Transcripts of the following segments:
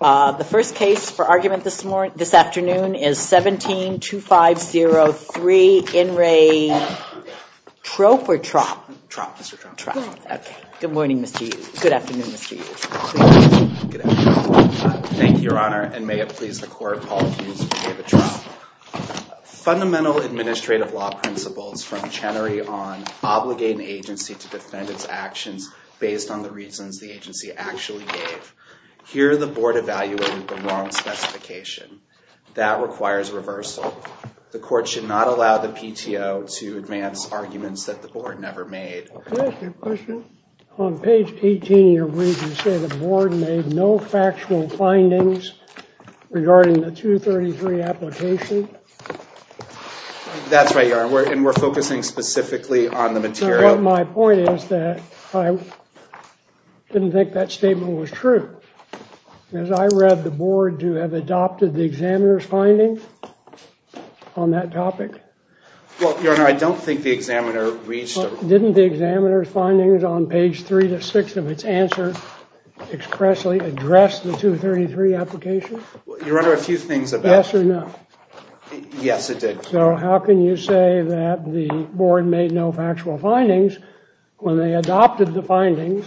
The first case for argument this afternoon is 17-2503, In Re Tropp or Tropp? Tropp, Mr. Tropp. Tropp. Okay. Good morning, Mr. Hughes. Good afternoon, Mr. Hughes. Good afternoon. Thank you, Your Honor, and may it please the Court, Paul Hughes, David Tropp. Fundamental administrative law principles from Chenery on obligating an agency to defend based on the reasons the agency actually gave. Here, the Board evaluated the wrong specification. That requires reversal. The Court should not allow the PTO to advance arguments that the Board never made. May I ask you a question? On page 18 of your brief, you say the Board made no factual findings regarding the 233 application? That's right, Your Honor, and we're focusing specifically on the material. My point is that I didn't think that statement was true. As I read the Board, do you have adopted the examiner's findings on that topic? Well, Your Honor, I don't think the examiner reached... Didn't the examiner's findings on page 3 to 6 of its answer expressly address the 233 application? Your Honor, a few things about... Yes or no? Yes, it did. So how can you say that the Board made no factual findings when they adopted the findings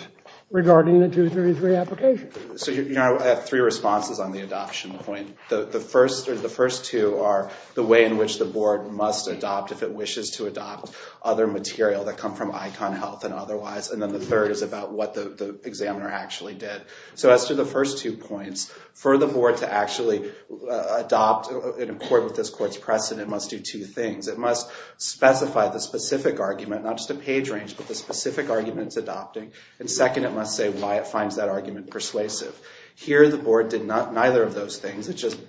regarding the 233 application? So, Your Honor, I have three responses on the adoption point. The first two are the way in which the Board must adopt if it wishes to adopt other material that come from ICON Health and otherwise, and then the third is about what the examiner actually did. So as to the first two points, for the Board to actually adopt in accord with this Court's precedent must do two things. It must specify the specific argument, not just a page range, but the specific argument it's adopting, and second, it must say why it finds that argument persuasive. Here, the Board did neither of those things. It just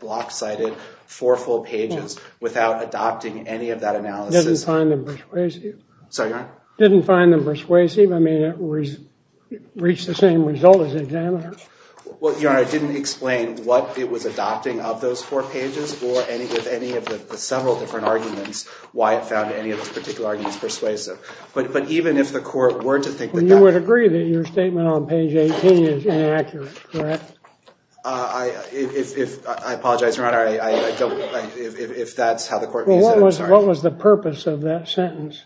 block-cited four full pages without adopting any of that analysis. Didn't find them persuasive. Sorry, Your Honor? Didn't find them persuasive. I mean, it reached the same result as the examiner. Well, Your Honor, it didn't explain what it was adopting of those four pages or any of the several different arguments, why it found any of those particular arguments persuasive. But even if the Court were to think that that... You would agree that your statement on page 18 is inaccurate, correct? I apologize, Your Honor. If that's how the Court views it, I'm sorry. What was the purpose of that sentence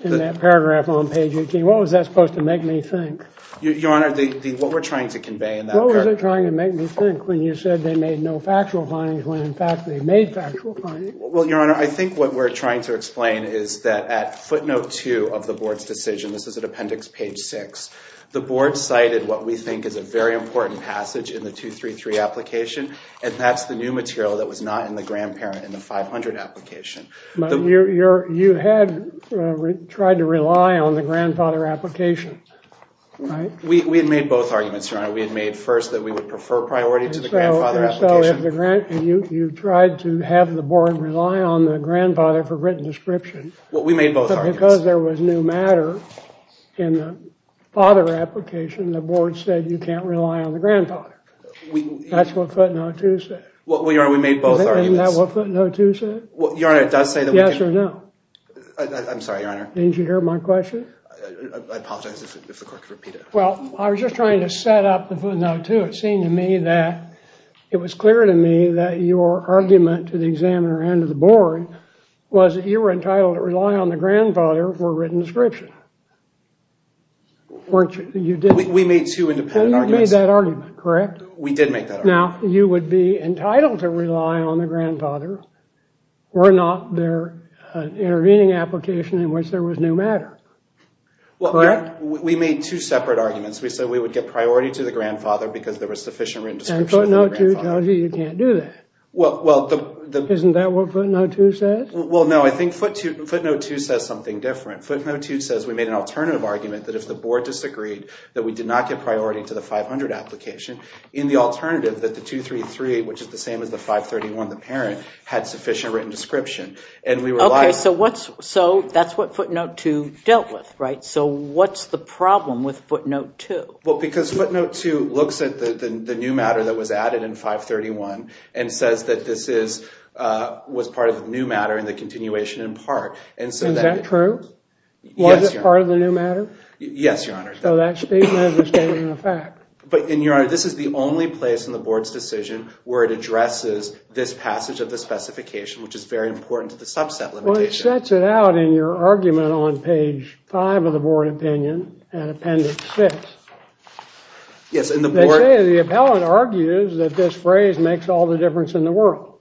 in that paragraph on page 18? What was that supposed to make me think? Your Honor, what we're trying to convey in that... What was it trying to make me think when you said they made no factual findings when, in fact, they made factual findings? Well, Your Honor, I think what we're trying to explain is that at footnote 2 of the Board's decision, this is at appendix page 6, the Board cited what we think is a very important passage in the 233 application, and that's the new material that was not in the grandparent in the 500 application. But you had tried to rely on the grandfather application. Right? We had made both arguments, Your Honor. We had made first that we would prefer priority to the grandfather application. So you tried to have the Board rely on the grandfather for written description. Well, we made both arguments. But because there was new matter in the father application, the Board said you can't rely on the grandfather. That's what footnote 2 said. Well, Your Honor, we made both arguments. Isn't that what footnote 2 said? Your Honor, it does say that we can... Yes or no? I'm sorry, Your Honor. Didn't you hear my question? I apologize if the court could repeat it. Well, I was just trying to set up the footnote 2. It seemed to me that it was clear to me that your argument to the examiner and to the Board was that you were entitled to rely on the grandfather for written description. Weren't you? We made two independent arguments. And you made that argument, correct? We did make that argument. Now, you would be entitled to rely on the grandfather were not there an intervening application in which there was new matter. Correct? We made two separate arguments. We said we would get priority to the grandfather because there was sufficient written description of the grandfather. And footnote 2 tells you you can't do that. Well, the... Isn't that what footnote 2 says? Well, no. I think footnote 2 says something different. Footnote 2 says we made an alternative argument that if the Board disagreed that we did not get priority to the 500 application, in the alternative that the 233, which is the same as the 531, the parent, had sufficient written description. And we relied... Okay, so that's what footnote 2 dealt with, right? So what's the problem with footnote 2? Well, because footnote 2 looks at the new matter that was added in 531 and says that this was part of the new matter and the continuation in part. Is that true? Yes, Your Honor. Was it part of the new matter? Yes, Your Honor. So that statement is a statement of fact. But, Your Honor, this is the only place in the Board's decision where it addresses this passage of the specification, which is very important to the subset limitation. Well, it sets it out in your argument on page 5 of the Board opinion and Appendix 6. Yes, and the Board... They say the appellant argues that this phrase makes all the difference in the world.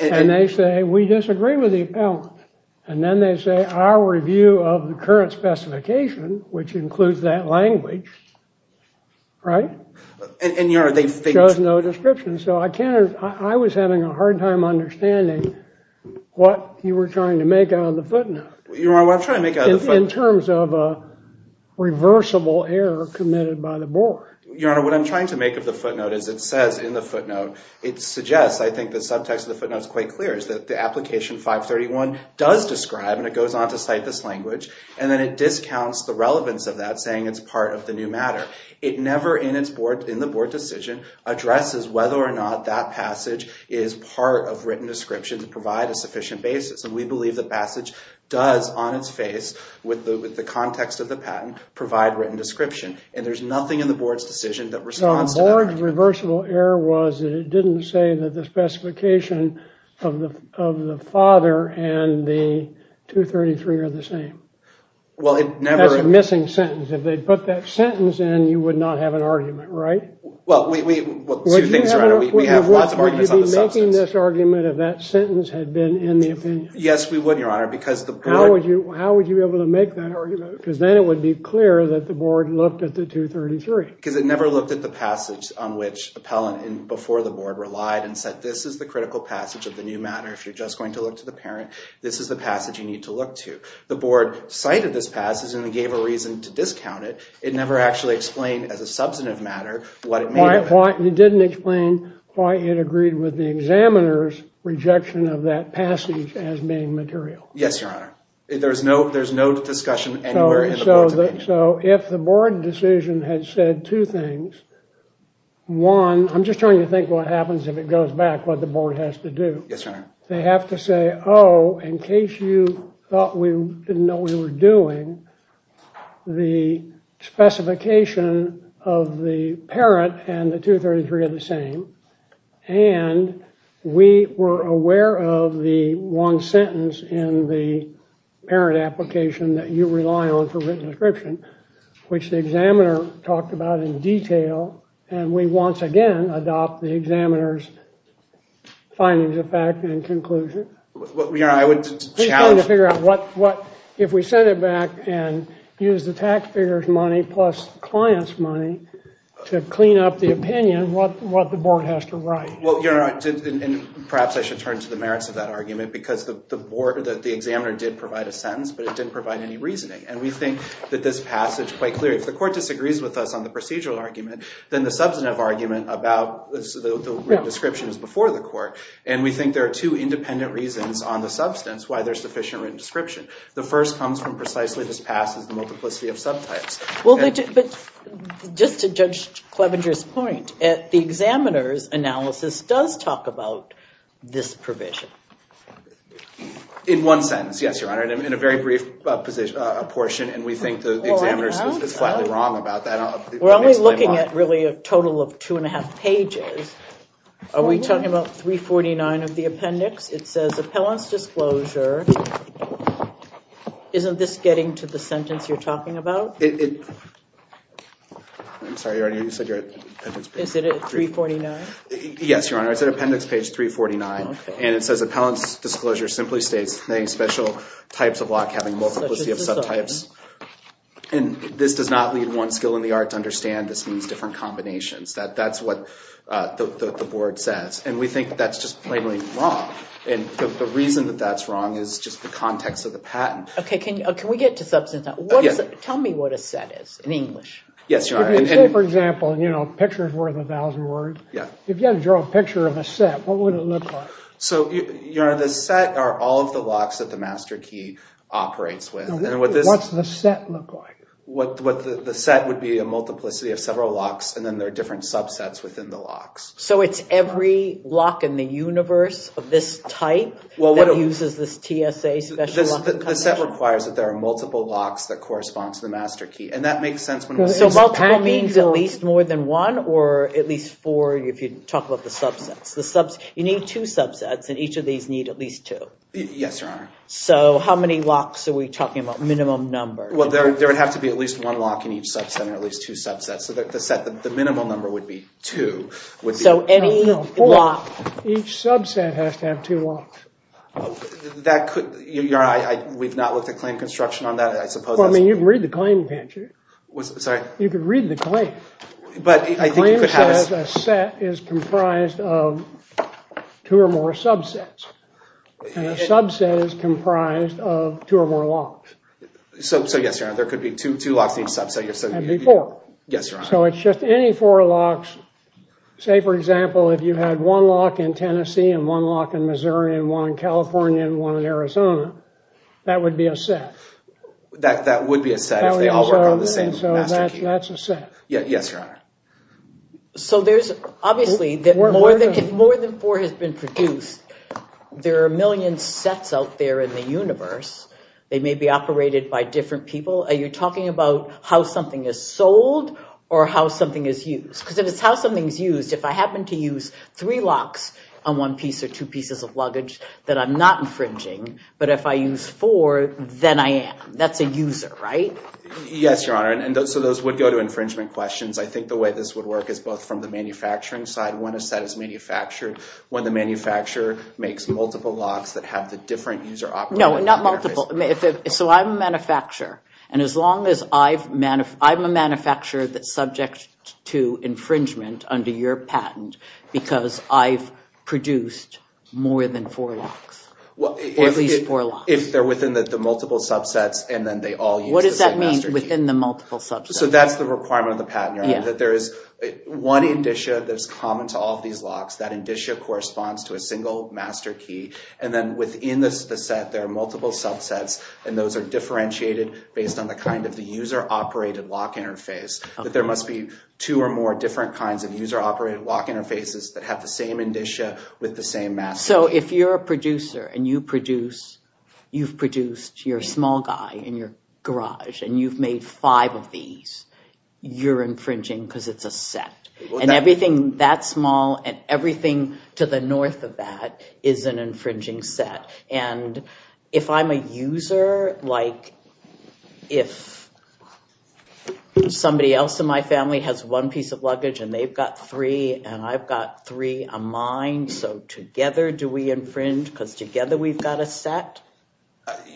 And they say we disagree with the appellant. And then they say our review of the current specification, which includes that language, right? And, Your Honor, they think... Shows no description. So I was having a hard time understanding what you were trying to make out of the footnote. Your Honor, what I'm trying to make out of the footnote... In terms of a reversible error committed by the Board. Your Honor, what I'm trying to make of the footnote is it says in the footnote, it suggests, I think, the subtext of the footnote is quite clear, is that the application 531 does describe, and it goes on to cite this language, and then it discounts the relevance of that, saying it's part of the new matter. It never, in the Board decision, addresses whether or not that passage is part of written description to provide a sufficient basis. And we believe the passage does, on its face, with the context of the patent, provide written description. And there's nothing in the Board's decision that responds to that. No, the Board's reversible error was that it didn't say that the specification of the father and the 233 are the same. Well, it never... That's a missing sentence. If they put that sentence in, you would not have an argument, right? Well, two things, Your Honor. We have lots of arguments on the subject. Would you be making this argument if that sentence had been in the opinion? Yes, we would, Your Honor, because the Board... How would you be able to make that argument? Because then it would be clear that the Board looked at the 233. Because it never looked at the passage on which appellant before the Board relied and said, this is the critical passage of the new matter. If you're just going to look to the parent, this is the passage you need to look to. The Board cited this passage and gave a reason to discount it. It never actually explained, as a substantive matter, what it made of it. It didn't explain why it agreed with the examiner's rejection of that passage as being material. Yes, Your Honor. There's no discussion anywhere in the Board's opinion. So if the Board decision had said two things, one, I'm just trying to think what happens if it goes back, what the Board has to do. Yes, Your Honor. They have to say, oh, in case you thought we didn't know what we were doing, the specification of the parent and the 233 are the same. And we were aware of the one sentence in the parent application that you rely on for written description, which the examiner talked about in detail. And we once again adopt the examiner's findings of fact and conclusion. Your Honor, I would challenge... He's trying to figure out what, if we send it back and use the taxpayer's money plus client's money to clean up the opinion, what the Board has to write. Well, Your Honor, perhaps I should turn to the merits of that argument because the examiner did provide a sentence, but it didn't provide any reasoning. And we think that this passage, quite clearly, if the court disagrees with us on the procedural argument, then the substantive argument about the written description is before the court. And we think there are two independent reasons on the substance why there's sufficient written description. The first comes from precisely this passage, the multiplicity of subtypes. But just to Judge Clevenger's point, the examiner's analysis does talk about this provision. In one sentence, yes, Your Honor. In a very brief portion, and we think the examiner is flatly wrong about that. We're only looking at, really, a total of two and a half pages. Are we talking about 349 of the appendix? It says, appellant's disclosure. Isn't this getting to the sentence you're talking about? I'm sorry, Your Honor, you said you're at appendix page 349? Yes, Your Honor, it's at appendix page 349. And it says, appellant's disclosure simply states, many special types of lock having multiplicity of subtypes. And this does not lead one skill in the art to understand this means different combinations. That's what the board says. And we think that's just plainly wrong. And the reason that that's wrong is just the context of the patent. Okay, can we get to substantive? Tell me what a set is in English. Yes, Your Honor. Say, for example, a picture is worth a thousand words. If you had to draw a picture of a set, what would it look like? So, Your Honor, the set are all of the locks that the master key operates with. What's the set look like? The set would be a multiplicity of several locks, and then there are different subsets within the locks. So it's every lock in the universe of this type that uses this TSA special lock? The set requires that there are multiple locks that correspond to the master key. So multiple means at least more than one, or at least four if you talk about the subsets. You need two subsets, and each of these need at least two. Yes, Your Honor. So how many locks are we talking about, minimum number? Well, there would have to be at least one lock in each subset, or at least two subsets. So the minimum number would be two. So any lock? Each subset has to have two locks. We've not looked at claim construction on that, I suppose. Well, I mean, you can read the claim, can't you? Sorry? You can read the claim. The claim says a set is comprised of two or more subsets, and a subset is comprised of two or more locks. So, yes, Your Honor, there could be two locks in each subset. And before. Yes, Your Honor. So it's just any four locks. Say, for example, if you had one lock in Tennessee and one lock in Missouri and one in California and one in Arizona, that would be a set. That would be a set if they all work on the same master key. So that's a set. Yes, Your Honor. So there's obviously, if more than four has been produced, there are a million sets out there in the universe. They may be operated by different people. Are you talking about how something is sold or how something is used? Because if it's how something is used, if I happen to use three locks on one piece or two pieces of luggage, that I'm not infringing, but if I use four, then I am. That's a user, right? Yes, Your Honor. So those would go to infringement questions. I think the way this would work is both from the manufacturing side, when a set is manufactured, when the manufacturer makes multiple locks that have the different user operating interface. No, not multiple. So I'm a manufacturer, and as long as I'm a manufacturer that's subject to infringement under your patent because I've produced more than four locks, or at least four locks. If they're within the multiple subsets and then they all use the same master key. What does that mean, within the multiple subsets? So that's the requirement of the patent, Your Honor, that there is one indicia that is common to all of these locks. That indicia corresponds to a single master key, and then within the set there are multiple subsets, and those are differentiated based on the kind of the user operated lock interface. That there must be two or more different kinds of user operated lock interfaces that have the same indicia with the same master key. So if you're a producer and you've produced your small guy in your garage, and you've made five of these, you're infringing because it's a set. And everything that small and everything to the north of that is an infringing set. If I'm a user, like if somebody else in my family has one piece of luggage and they've got three and I've got three of mine, so together do we infringe because together we've got a set?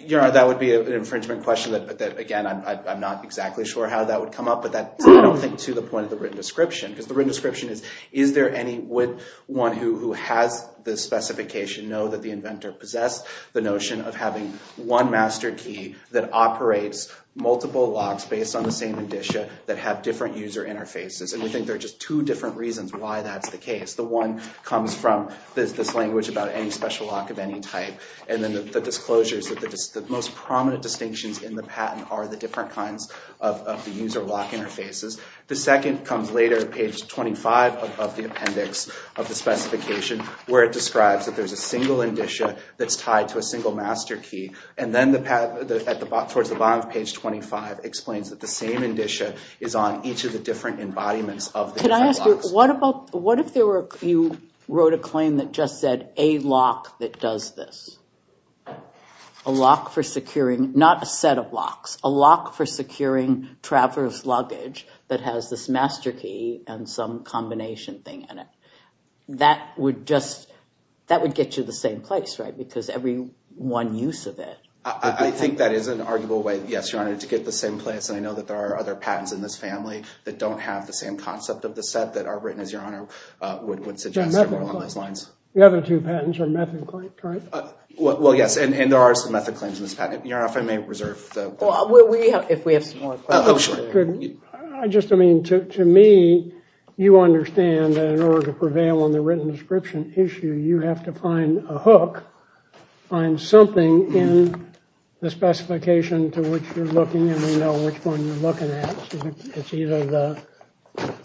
Your Honor, that would be an infringement question that, again, I'm not exactly sure how that would come up, but I don't think to the point of the written description. Because the written description is, is there anyone who has the specification know that the inventor possessed the notion of having one master key that operates multiple locks based on the same indicia that have different user interfaces? And we think there are just two different reasons why that's the case. The one comes from this language about any special lock of any type, and then the disclosure is that the most prominent distinctions in the patent are the different kinds of the user lock interfaces. The second comes later, page 25 of the appendix of the specification, where it describes that there's a single indicia that's tied to a single master key. And then towards the bottom of page 25 explains that the same indicia is on each of the different embodiments of the different locks. Can I ask you, what if you wrote a claim that just said a lock that does this? A lock for securing, not a set of locks, a lock for securing travelers' luggage that has this master key and some combination thing in it? That would just, that would get you the same place, right? Because every one use of it. I think that is an arguable way, yes, Your Honor, to get the same place. And I know that there are other patents in this family that don't have the same concept of the set that are written as Your Honor would suggest along those lines. The other two patents are method claims, correct? Well, yes, and there are some method claims in this patent. Your Honor, if I may reserve the… Well, we have, if we have some more questions. I just, I mean, to me, you understand that in order to prevail on the written description issue, you have to find a hook, find something in the specification to which you're looking and you know which one you're looking at. It's either the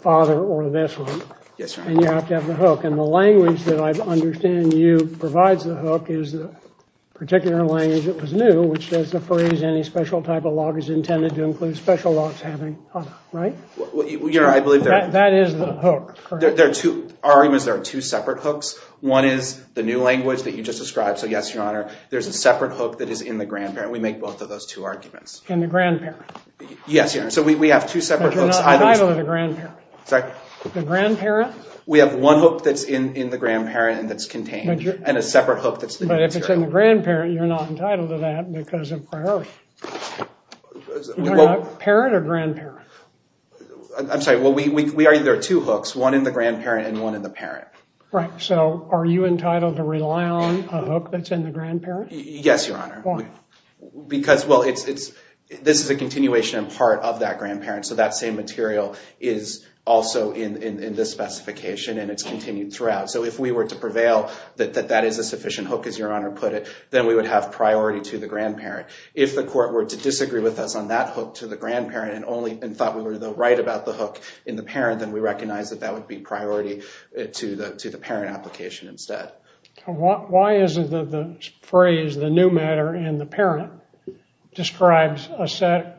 father or this one. Yes, sir. And you have to have the hook. And the language that I understand you provides the hook is the particular language that was new, any special type of log is intended to include special logs having, right? Well, Your Honor, I believe that… That is the hook, correct? There are two, our argument is there are two separate hooks. One is the new language that you just described. So yes, Your Honor, there's a separate hook that is in the grandparent. We make both of those two arguments. In the grandparent? Yes, Your Honor. So we have two separate hooks. But you're not entitled to the grandparent. Sorry? The grandparent? We have one hook that's in the grandparent and that's contained and a separate hook that's… But if it's in the grandparent, you're not entitled to that because of priority. Parent or grandparent? I'm sorry. Well, we argue there are two hooks, one in the grandparent and one in the parent. Right. So are you entitled to rely on a hook that's in the grandparent? Yes, Your Honor. Why? Because, well, it's… This is a continuation and part of that grandparent. So that same material is also in this specification and it's continued throughout. So if we were to prevail that that is a sufficient hook, as Your Honor put it, then we would have priority to the grandparent. If the court were to disagree with us on that hook to the grandparent and thought we were right about the hook in the parent, then we recognize that that would be priority to the parent application instead. Why is it that the phrase, the new matter in the parent, describes a set…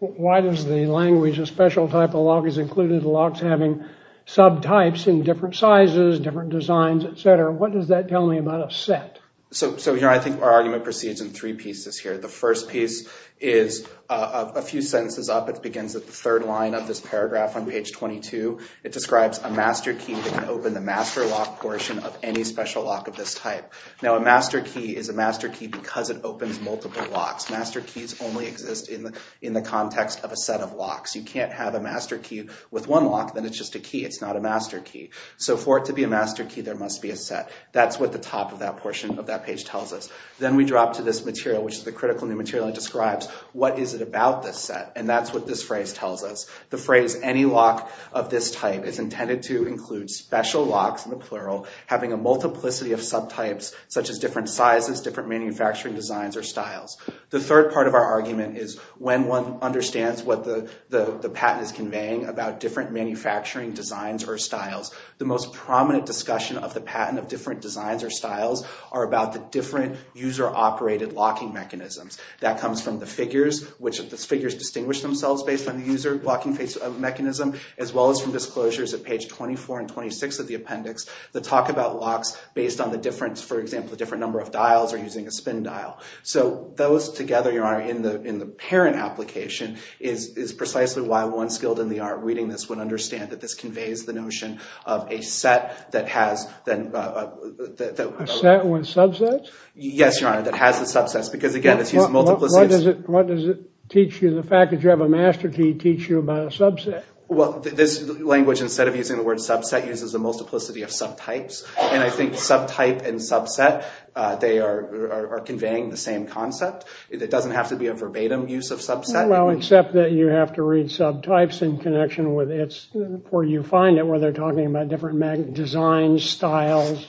Why does the language, a special type of lock is included, locks having subtypes in different sizes, different designs, etc.? What does that tell me about a set? So, Your Honor, I think our argument proceeds in three pieces here. The first piece is a few sentences up. It begins at the third line of this paragraph on page 22. It describes a master key that can open the master lock portion of any special lock of this type. Now, a master key is a master key because it opens multiple locks. Master keys only exist in the context of a set of locks. You can't have a master key with one lock, then it's just a key. It's not a master key. So for it to be a master key, there must be a set. That's what the top of that portion of that page tells us. Then we drop to this material, which is the critical new material. It describes what is it about this set, and that's what this phrase tells us. The phrase, any lock of this type, is intended to include special locks, in the plural, having a multiplicity of subtypes, such as different sizes, different manufacturing designs, or styles. The third part of our argument is when one understands what the patent is conveying about different manufacturing designs or styles, the most prominent discussion of the patent of different designs or styles are about the different user-operated locking mechanisms. That comes from the figures, which the figures distinguish themselves based on the user locking mechanism, as well as from disclosures at page 24 and 26 of the appendix that talk about locks based on the difference, for example, the different number of dials or using a spin dial. So those together, Your Honor, in the parent application is precisely why one skilled in the art reading this would understand that this conveys the notion of a set that has the... A set with subsets? Yes, Your Honor, that has the subsets, because again, it's using multiplicities. What does it teach you, the fact that you have a master key, teach you about a subset? Well, this language, instead of using the word subset, uses the multiplicity of subtypes, and I think subtype and subset, they are conveying the same concept. It doesn't have to be a verbatim use of subset. Well, except that you have to read subtypes in connection with its, where you find it where they're talking about different design styles,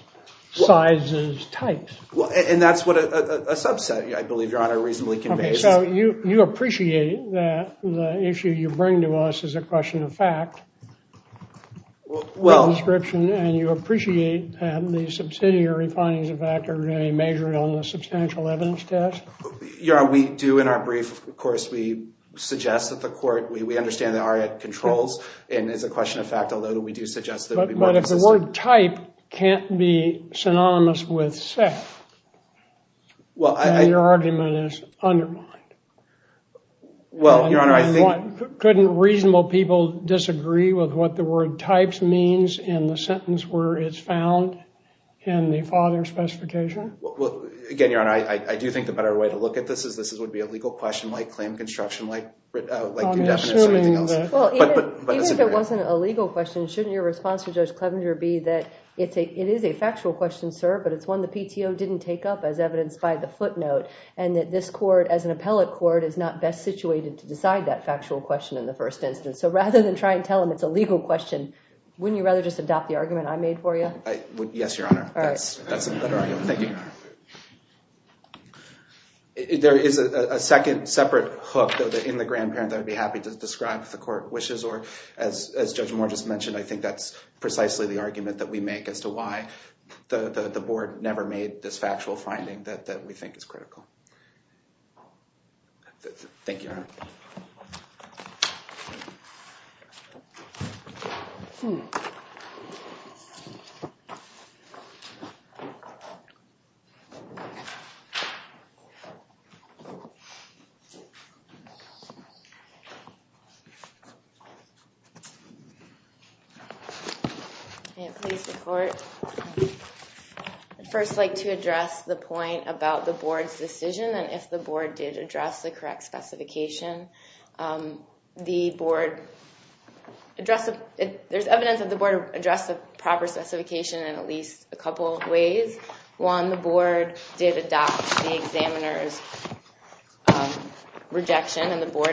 sizes, types. And that's what a subset, I believe, Your Honor, reasonably conveys. So you appreciate that the issue you bring to us is a question of fact, and you appreciate that the subsidiary findings of fact are going to be measured on the substantial evidence test? Your Honor, we do in our brief, of course, we suggest that the court, we understand there are controls, and it's a question of fact, although we do suggest that it would be more consistent. But if the word type can't be synonymous with set, then your argument is undermined. Well, Your Honor, I think – Couldn't reasonable people disagree with what the word types means in the sentence where it's found in the father specification? Well, again, Your Honor, I do think the better way to look at this is this would be a legal question, like claim construction, like indefinite, something else. Well, even if it wasn't a legal question, shouldn't your response to Judge Clevenger be that it is a factual question, sir, but it's one the PTO didn't take up as evidenced by the footnote, and that this court, as an appellate court, is not best situated to decide that factual question in the first instance. So rather than try and tell them it's a legal question, wouldn't you rather just adopt the argument I made for you? Yes, Your Honor. All right. That's a better argument. Thank you. There is a second separate hook in the grandparent that I'd be happy to describe if the court wishes, or as Judge Moore just mentioned, I think that's precisely the argument that we make as to why the board never made this factual finding that we think is critical. May it please the court. I'd first like to address the point about the board's decision, and if the board did address the correct specification. There's evidence that the board addressed the proper specification in at least a couple of ways. One, the board did adopt the examiner's rejection, and the board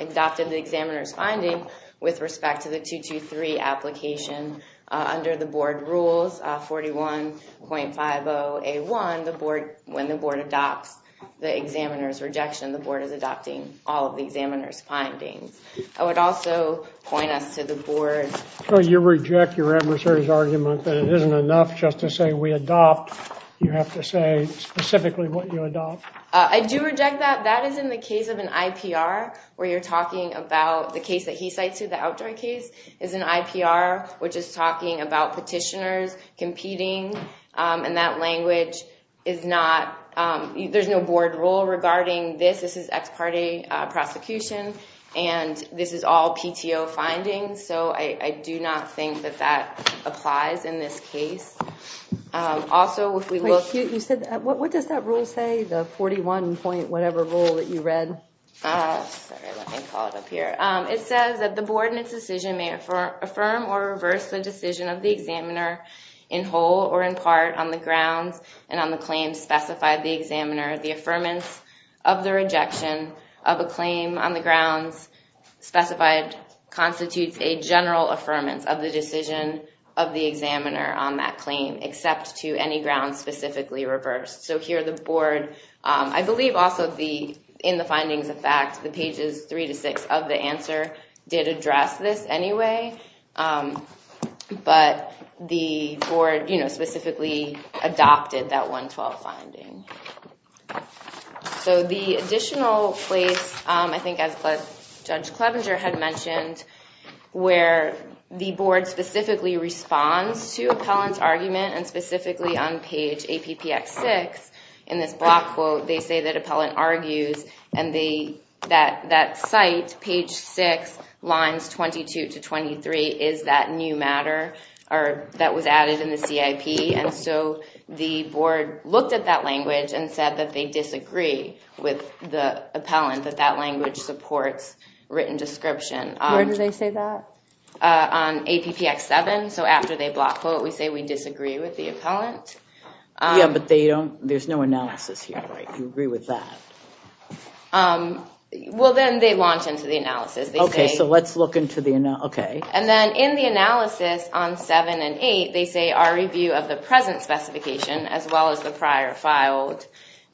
adopted the examiner's finding with respect to the 223 application. Under the board rules, 41.50A1, when the board adopts the examiner's rejection, the board is adopting all of the examiner's findings. I would also point us to the board. So you reject your adversary's argument that it isn't enough just to say we adopt, you have to say specifically what you adopt? I do reject that. That is in the case of an IPR where you're talking about the case that he cites here, the Outdoor case, is an IPR which is talking about petitioners competing, and that language is not, there's no board rule regarding this. This is ex parte prosecution, and this is all PTO findings, so I do not think that that applies in this case. Also, if we look. You said, what does that rule say, the 41 point whatever rule that you read? Sorry, let me call it up here. It says that the board in its decision may affirm or reverse the decision of the examiner in whole or in part on the grounds and on the claims specified the examiner. The affirmance of the rejection of a claim on the grounds specified constitutes a general affirmance of the decision of the examiner on that claim, except to any grounds specifically reversed. So here the board, I believe also in the findings of fact, the pages three to six of the answer did address this anyway, but the board specifically adopted that 112 finding. So the additional place, I think as Judge Clevenger had mentioned, where the board specifically responds to appellant's argument and specifically on page APPX6 in this block quote, they say that appellant argues and that site, page six, lines 22 to 23, is that new matter that was added in the CIP, and so the board looked at that language and said that they disagree with the appellant, that that language supports written description. Where do they say that? On APPX7, so after they block quote we say we disagree with the appellant. Yeah, but there's no analysis here, right? You agree with that? Well, then they launch into the analysis. Okay, so let's look into the analysis. And then in the analysis on seven and eight, they say our review of the present specification as well as the prior filed.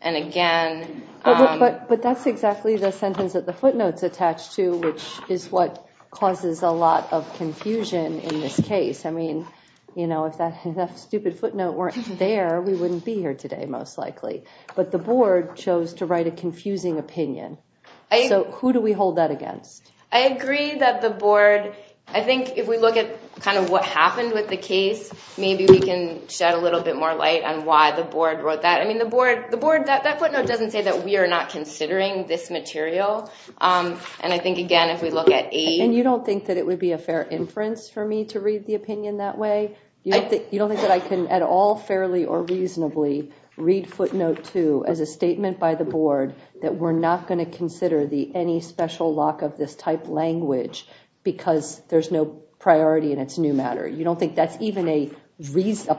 But that's exactly the sentence that the footnotes attach to, which is what causes a lot of confusion in this case. I mean, if that stupid footnote weren't there, we wouldn't be here today most likely. But the board chose to write a confusing opinion. So who do we hold that against? I agree that the board, I think if we look at kind of what happened with the case, maybe we can shed a little bit more light on why the board wrote that. I mean, the board, that footnote doesn't say that we are not considering this material. And I think, again, if we look at eight. And you don't think that it would be a fair inference for me to read the opinion that way? You don't think that I can at all fairly or reasonably read footnote two as a statement by the board that we're not going to consider any special lock of this type language because there's no priority in its new matter? You don't think that's even a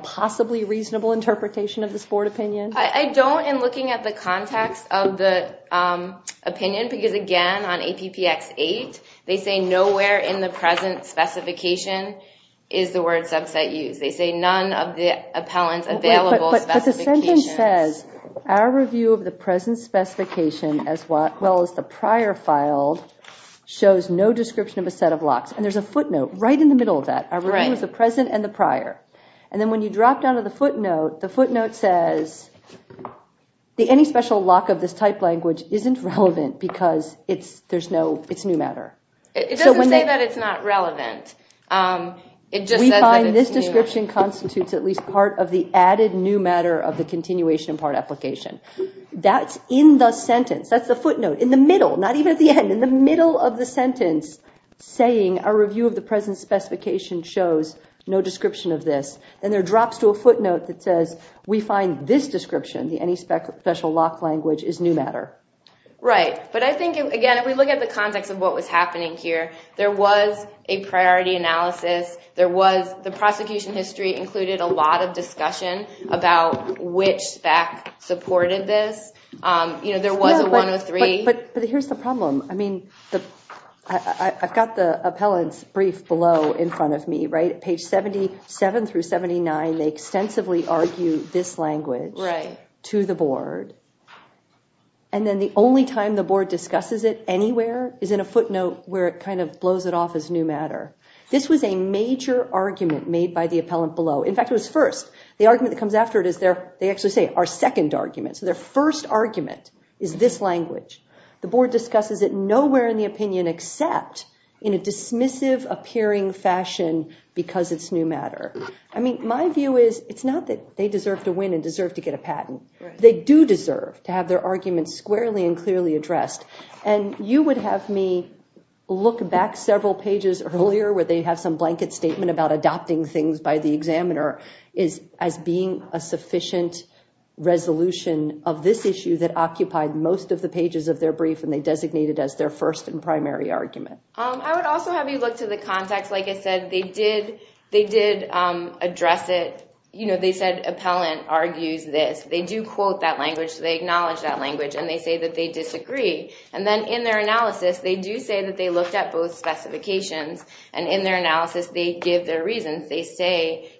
possibly reasonable interpretation of this board opinion? I don't in looking at the context of the opinion because, again, on APPX 8, they say nowhere in the present specification is the word subset used. They say none of the appellant's available specifications. But the sentence says, our review of the present specification as well as the prior file shows no description of a set of locks. And there's a footnote right in the middle of that. Our review of the present and the prior. And then when you drop down to the footnote, the footnote says, any special lock of this type language isn't relevant because it's new matter. It doesn't say that it's not relevant. We find this description constitutes at least part of the added new matter of the continuation part application. That's in the sentence. That's the footnote in the middle, not even at the end, in the middle of the sentence saying our review of the present specification shows no description of this. Then there are drops to a footnote that says, we find this description, the any special lock language, is new matter. Right. But I think, again, if we look at the context of what was happening here, there was a priority analysis. There was the prosecution history included a lot of discussion about which SPAC supported this. You know, there was a 103. But here's the problem. I mean, I've got the appellant's brief below in front of me, right? Page 77 through 79, they extensively argue this language to the board. And then the only time the board discusses it anywhere is in a footnote where it kind of blows it off as new matter. This was a major argument made by the appellant below. In fact, it was first. The argument that comes after it is their, they actually say, our second argument. So their first argument is this language. The board discusses it nowhere in the opinion except in a dismissive appearing fashion because it's new matter. I mean, my view is, it's not that they deserve to win and deserve to get a patent. They do deserve to have their arguments squarely and clearly addressed. And you would have me look back several pages earlier where they have some blanket statement about adopting things by the examiner as being a sufficient resolution of this issue that occupied most of the pages of their brief and they designated as their first and primary argument. I would also have you look to the context. Like I said, they did address it. They said, appellant argues this. They do quote that language. They acknowledge that language and they say that they disagree. And then in their analysis, they do say that they looked at both specifications and in their analysis, they give their reasons. They say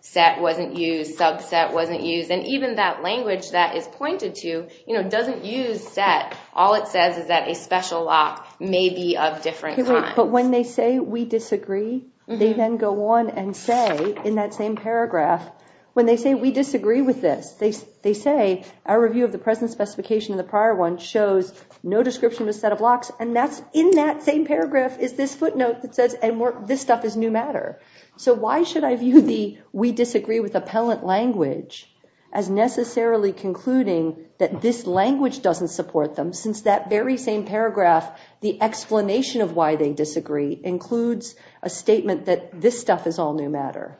set wasn't used, subset wasn't used. And even that language that is pointed to doesn't use set. All it says is that a special lock may be of different kinds. But when they say we disagree, they then go on and say in that same paragraph, when they say we disagree with this, they say our review of the present specification and the prior one shows no description of a set of locks and that's in that same paragraph is this footnote that says, and this stuff is new matter. So why should I view the we disagree with appellant language as necessarily concluding that this language doesn't support them since that very same paragraph, the explanation of why they disagree includes a statement that this stuff is all new matter.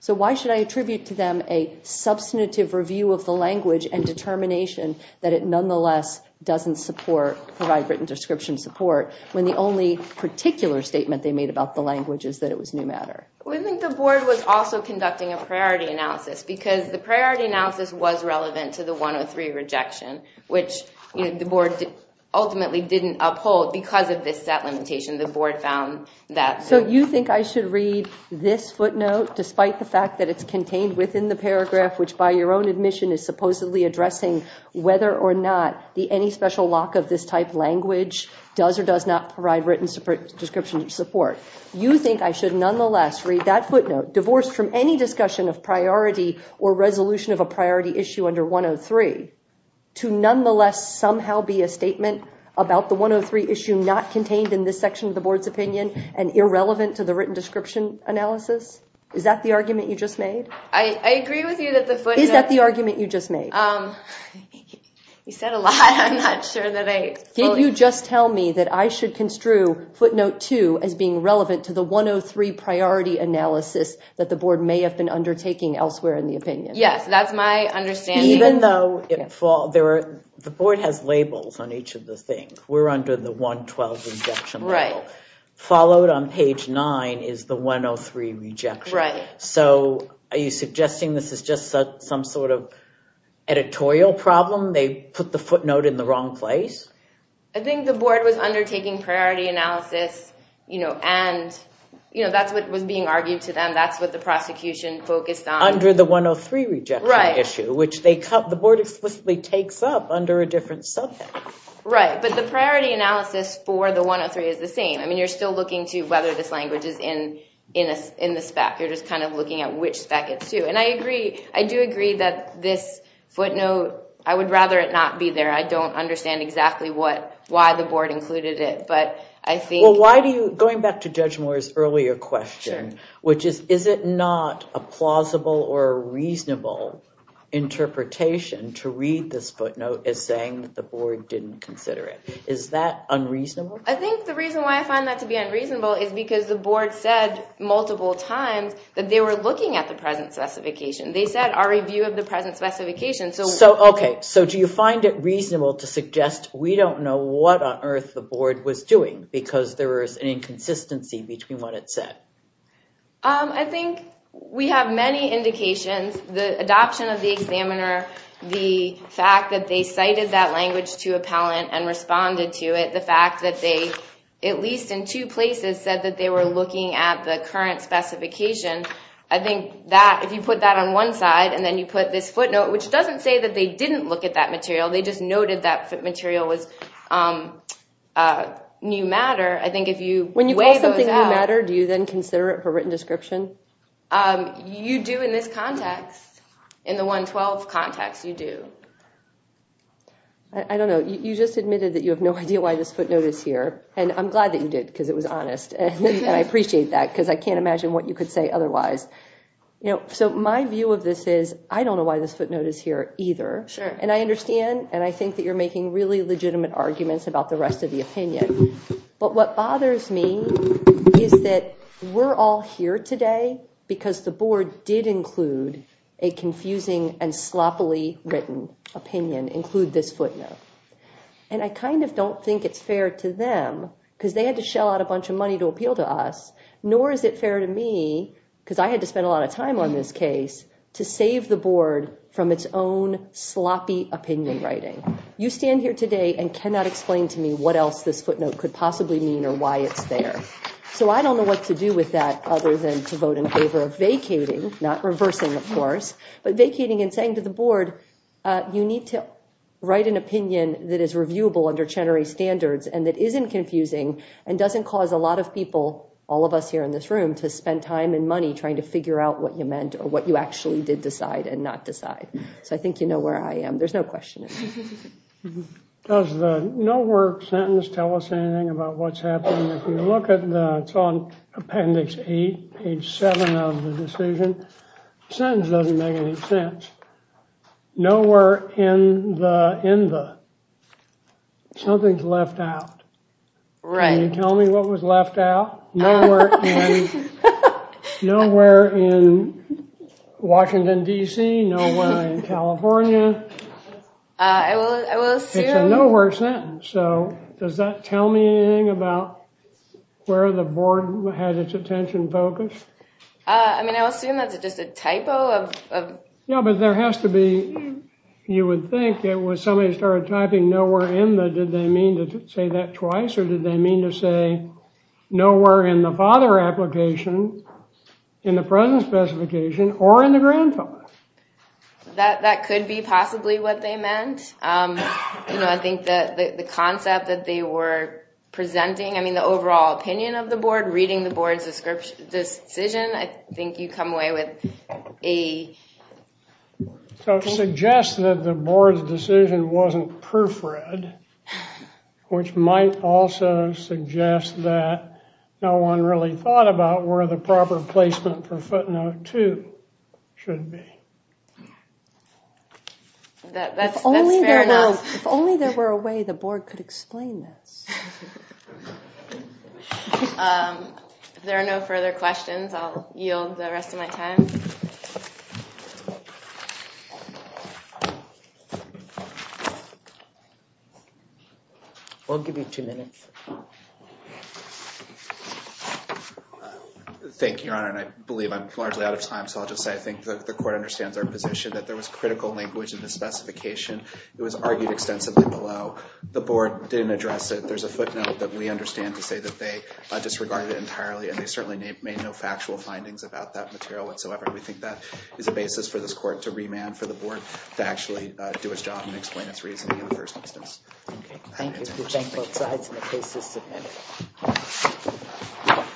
So why should I attribute to them a substantive review of the language and determination that it nonetheless doesn't support, provide written description support, when the only particular statement they made about the language is that it was new matter? We think the board was also conducting a priority analysis because the priority analysis was relevant to the 103 rejection, which the board ultimately didn't uphold because of this set limitation. The board found that. So you think I should read this footnote despite the fact that it's contained within the paragraph, which by your own admission is supposedly addressing whether or not the any special lock of this type language does or does not provide written description support. You think I should nonetheless read that footnote divorced from any discussion of priority or resolution of a priority issue under 103 to nonetheless somehow be a statement about the 103 issue not contained in this section of the board's opinion and irrelevant to the written description analysis? Is that the argument you just made? I agree with you that the footnote... Is that the argument you just made? You said a lot. I'm not sure that I... Did you just tell me that I should construe footnote 2 as being relevant to the 103 priority analysis that the board may have been undertaking elsewhere in the opinion? Yes, that's my understanding. Even though the board has labels on each of the things. We're under the 112 rejection label. Right. Followed on page 9 is the 103 rejection. Right. So are you suggesting this is just some sort of editorial problem? They put the footnote in the wrong place? I think the board was undertaking priority analysis and that's what was being argued to them. That's what the prosecution focused on. Under the 103 rejection issue, which the board explicitly takes up under a different subject. Right, but the priority analysis for the 103 is the same. I mean, you're still looking to whether this language is in the spec. You're just kind of looking at which spec it's to. And I do agree that this footnote, I would rather it not be there. I don't understand exactly why the board included it, but I think... Well, going back to Judge Moore's earlier question, which is, is it not a plausible or reasonable interpretation to read this footnote as saying the board didn't consider it? Is that unreasonable? I think the reason why I find that to be unreasonable is because the board said multiple times that they were looking at the present specification. They said, our review of the present specification... Okay, so do you find it reasonable to suggest we don't know what on earth the board was doing because there was an inconsistency between what it said? I think we have many indications. The adoption of the examiner, the fact that they cited that language to appellant and responded to it, the fact that they, at least in two places, said that they were looking at the current specification. I think if you put that on one side and then you put this footnote, which doesn't say that they didn't look at that material. They just noted that footmaterial was new matter. I think if you weigh those out... When you call something new matter, do you then consider it for written description? You do in this context. In the 112 context, you do. I don't know. You just admitted that you have no idea why this footnote is here, and I'm glad that you did because it was honest, and I appreciate that because I can't imagine what you could say otherwise. So my view of this is, I don't know why this footnote is here either, and I understand, and I think that you're making really legitimate arguments about the rest of the opinion, but what bothers me is that we're all here today because the board did include a confusing and sloppily written opinion, include this footnote, and I kind of don't think it's fair to them because they had to shell out a bunch of money to appeal to us, nor is it fair to me because I had to spend a lot of time on this case to save the board from its own sloppy opinion writing. You stand here today and cannot explain to me what else this footnote could possibly mean or why it's there. So I don't know what to do with that other than to vote in favor of vacating, not reversing, of course, but vacating and saying to the board, you need to write an opinion that is reviewable under Chenery standards and that isn't confusing and doesn't cause a lot of people, all of us here in this room, to spend time and money trying to figure out what you meant or what you actually did decide and not decide. So I think you know where I am. There's no question. Does the nowhere sentence tell us anything about what's happening? If you look at the, it's on appendix eight, page seven of the decision, the sentence doesn't make any sense. Nowhere in the, in the. Something's left out. Can you tell me what was left out? Nowhere in, in Washington, D.C., nowhere in California. I will, I will assume. It's a nowhere sentence. So does that tell me anything about where the board had its attention focused? I mean, I assume that's just a typo of. Yeah, but there has to be, you would think it was somebody started typing nowhere in the, did they mean to say that twice or did they mean to say nowhere in the father application? In the present specification or in the grandfather? That, that could be possibly what they meant. You know, I think that the concept that they were presenting, I mean, the overall opinion of the board, reading the board's description, this decision, I think you come away with a. So it suggests that the board's decision wasn't proofread, which might also suggest that no one really thought about where the proper placement for footnote two should be. That's fair enough. If only there were a way the board could explain this. If there are no further questions, I'll yield the rest of my time. I'll give you two minutes. Thank you, Your Honor, and I believe I'm largely out of time, so I'll just say I think the court understands our position that there was critical language in the specification. It was argued extensively below. The board didn't address it. There's a footnote that we understand to say that they disregarded it entirely and they certainly made no factual findings about that material whatsoever. We think that is a basis for this court to remand for the board to actually do its job and explain its reasoning in the first instance. Thank you.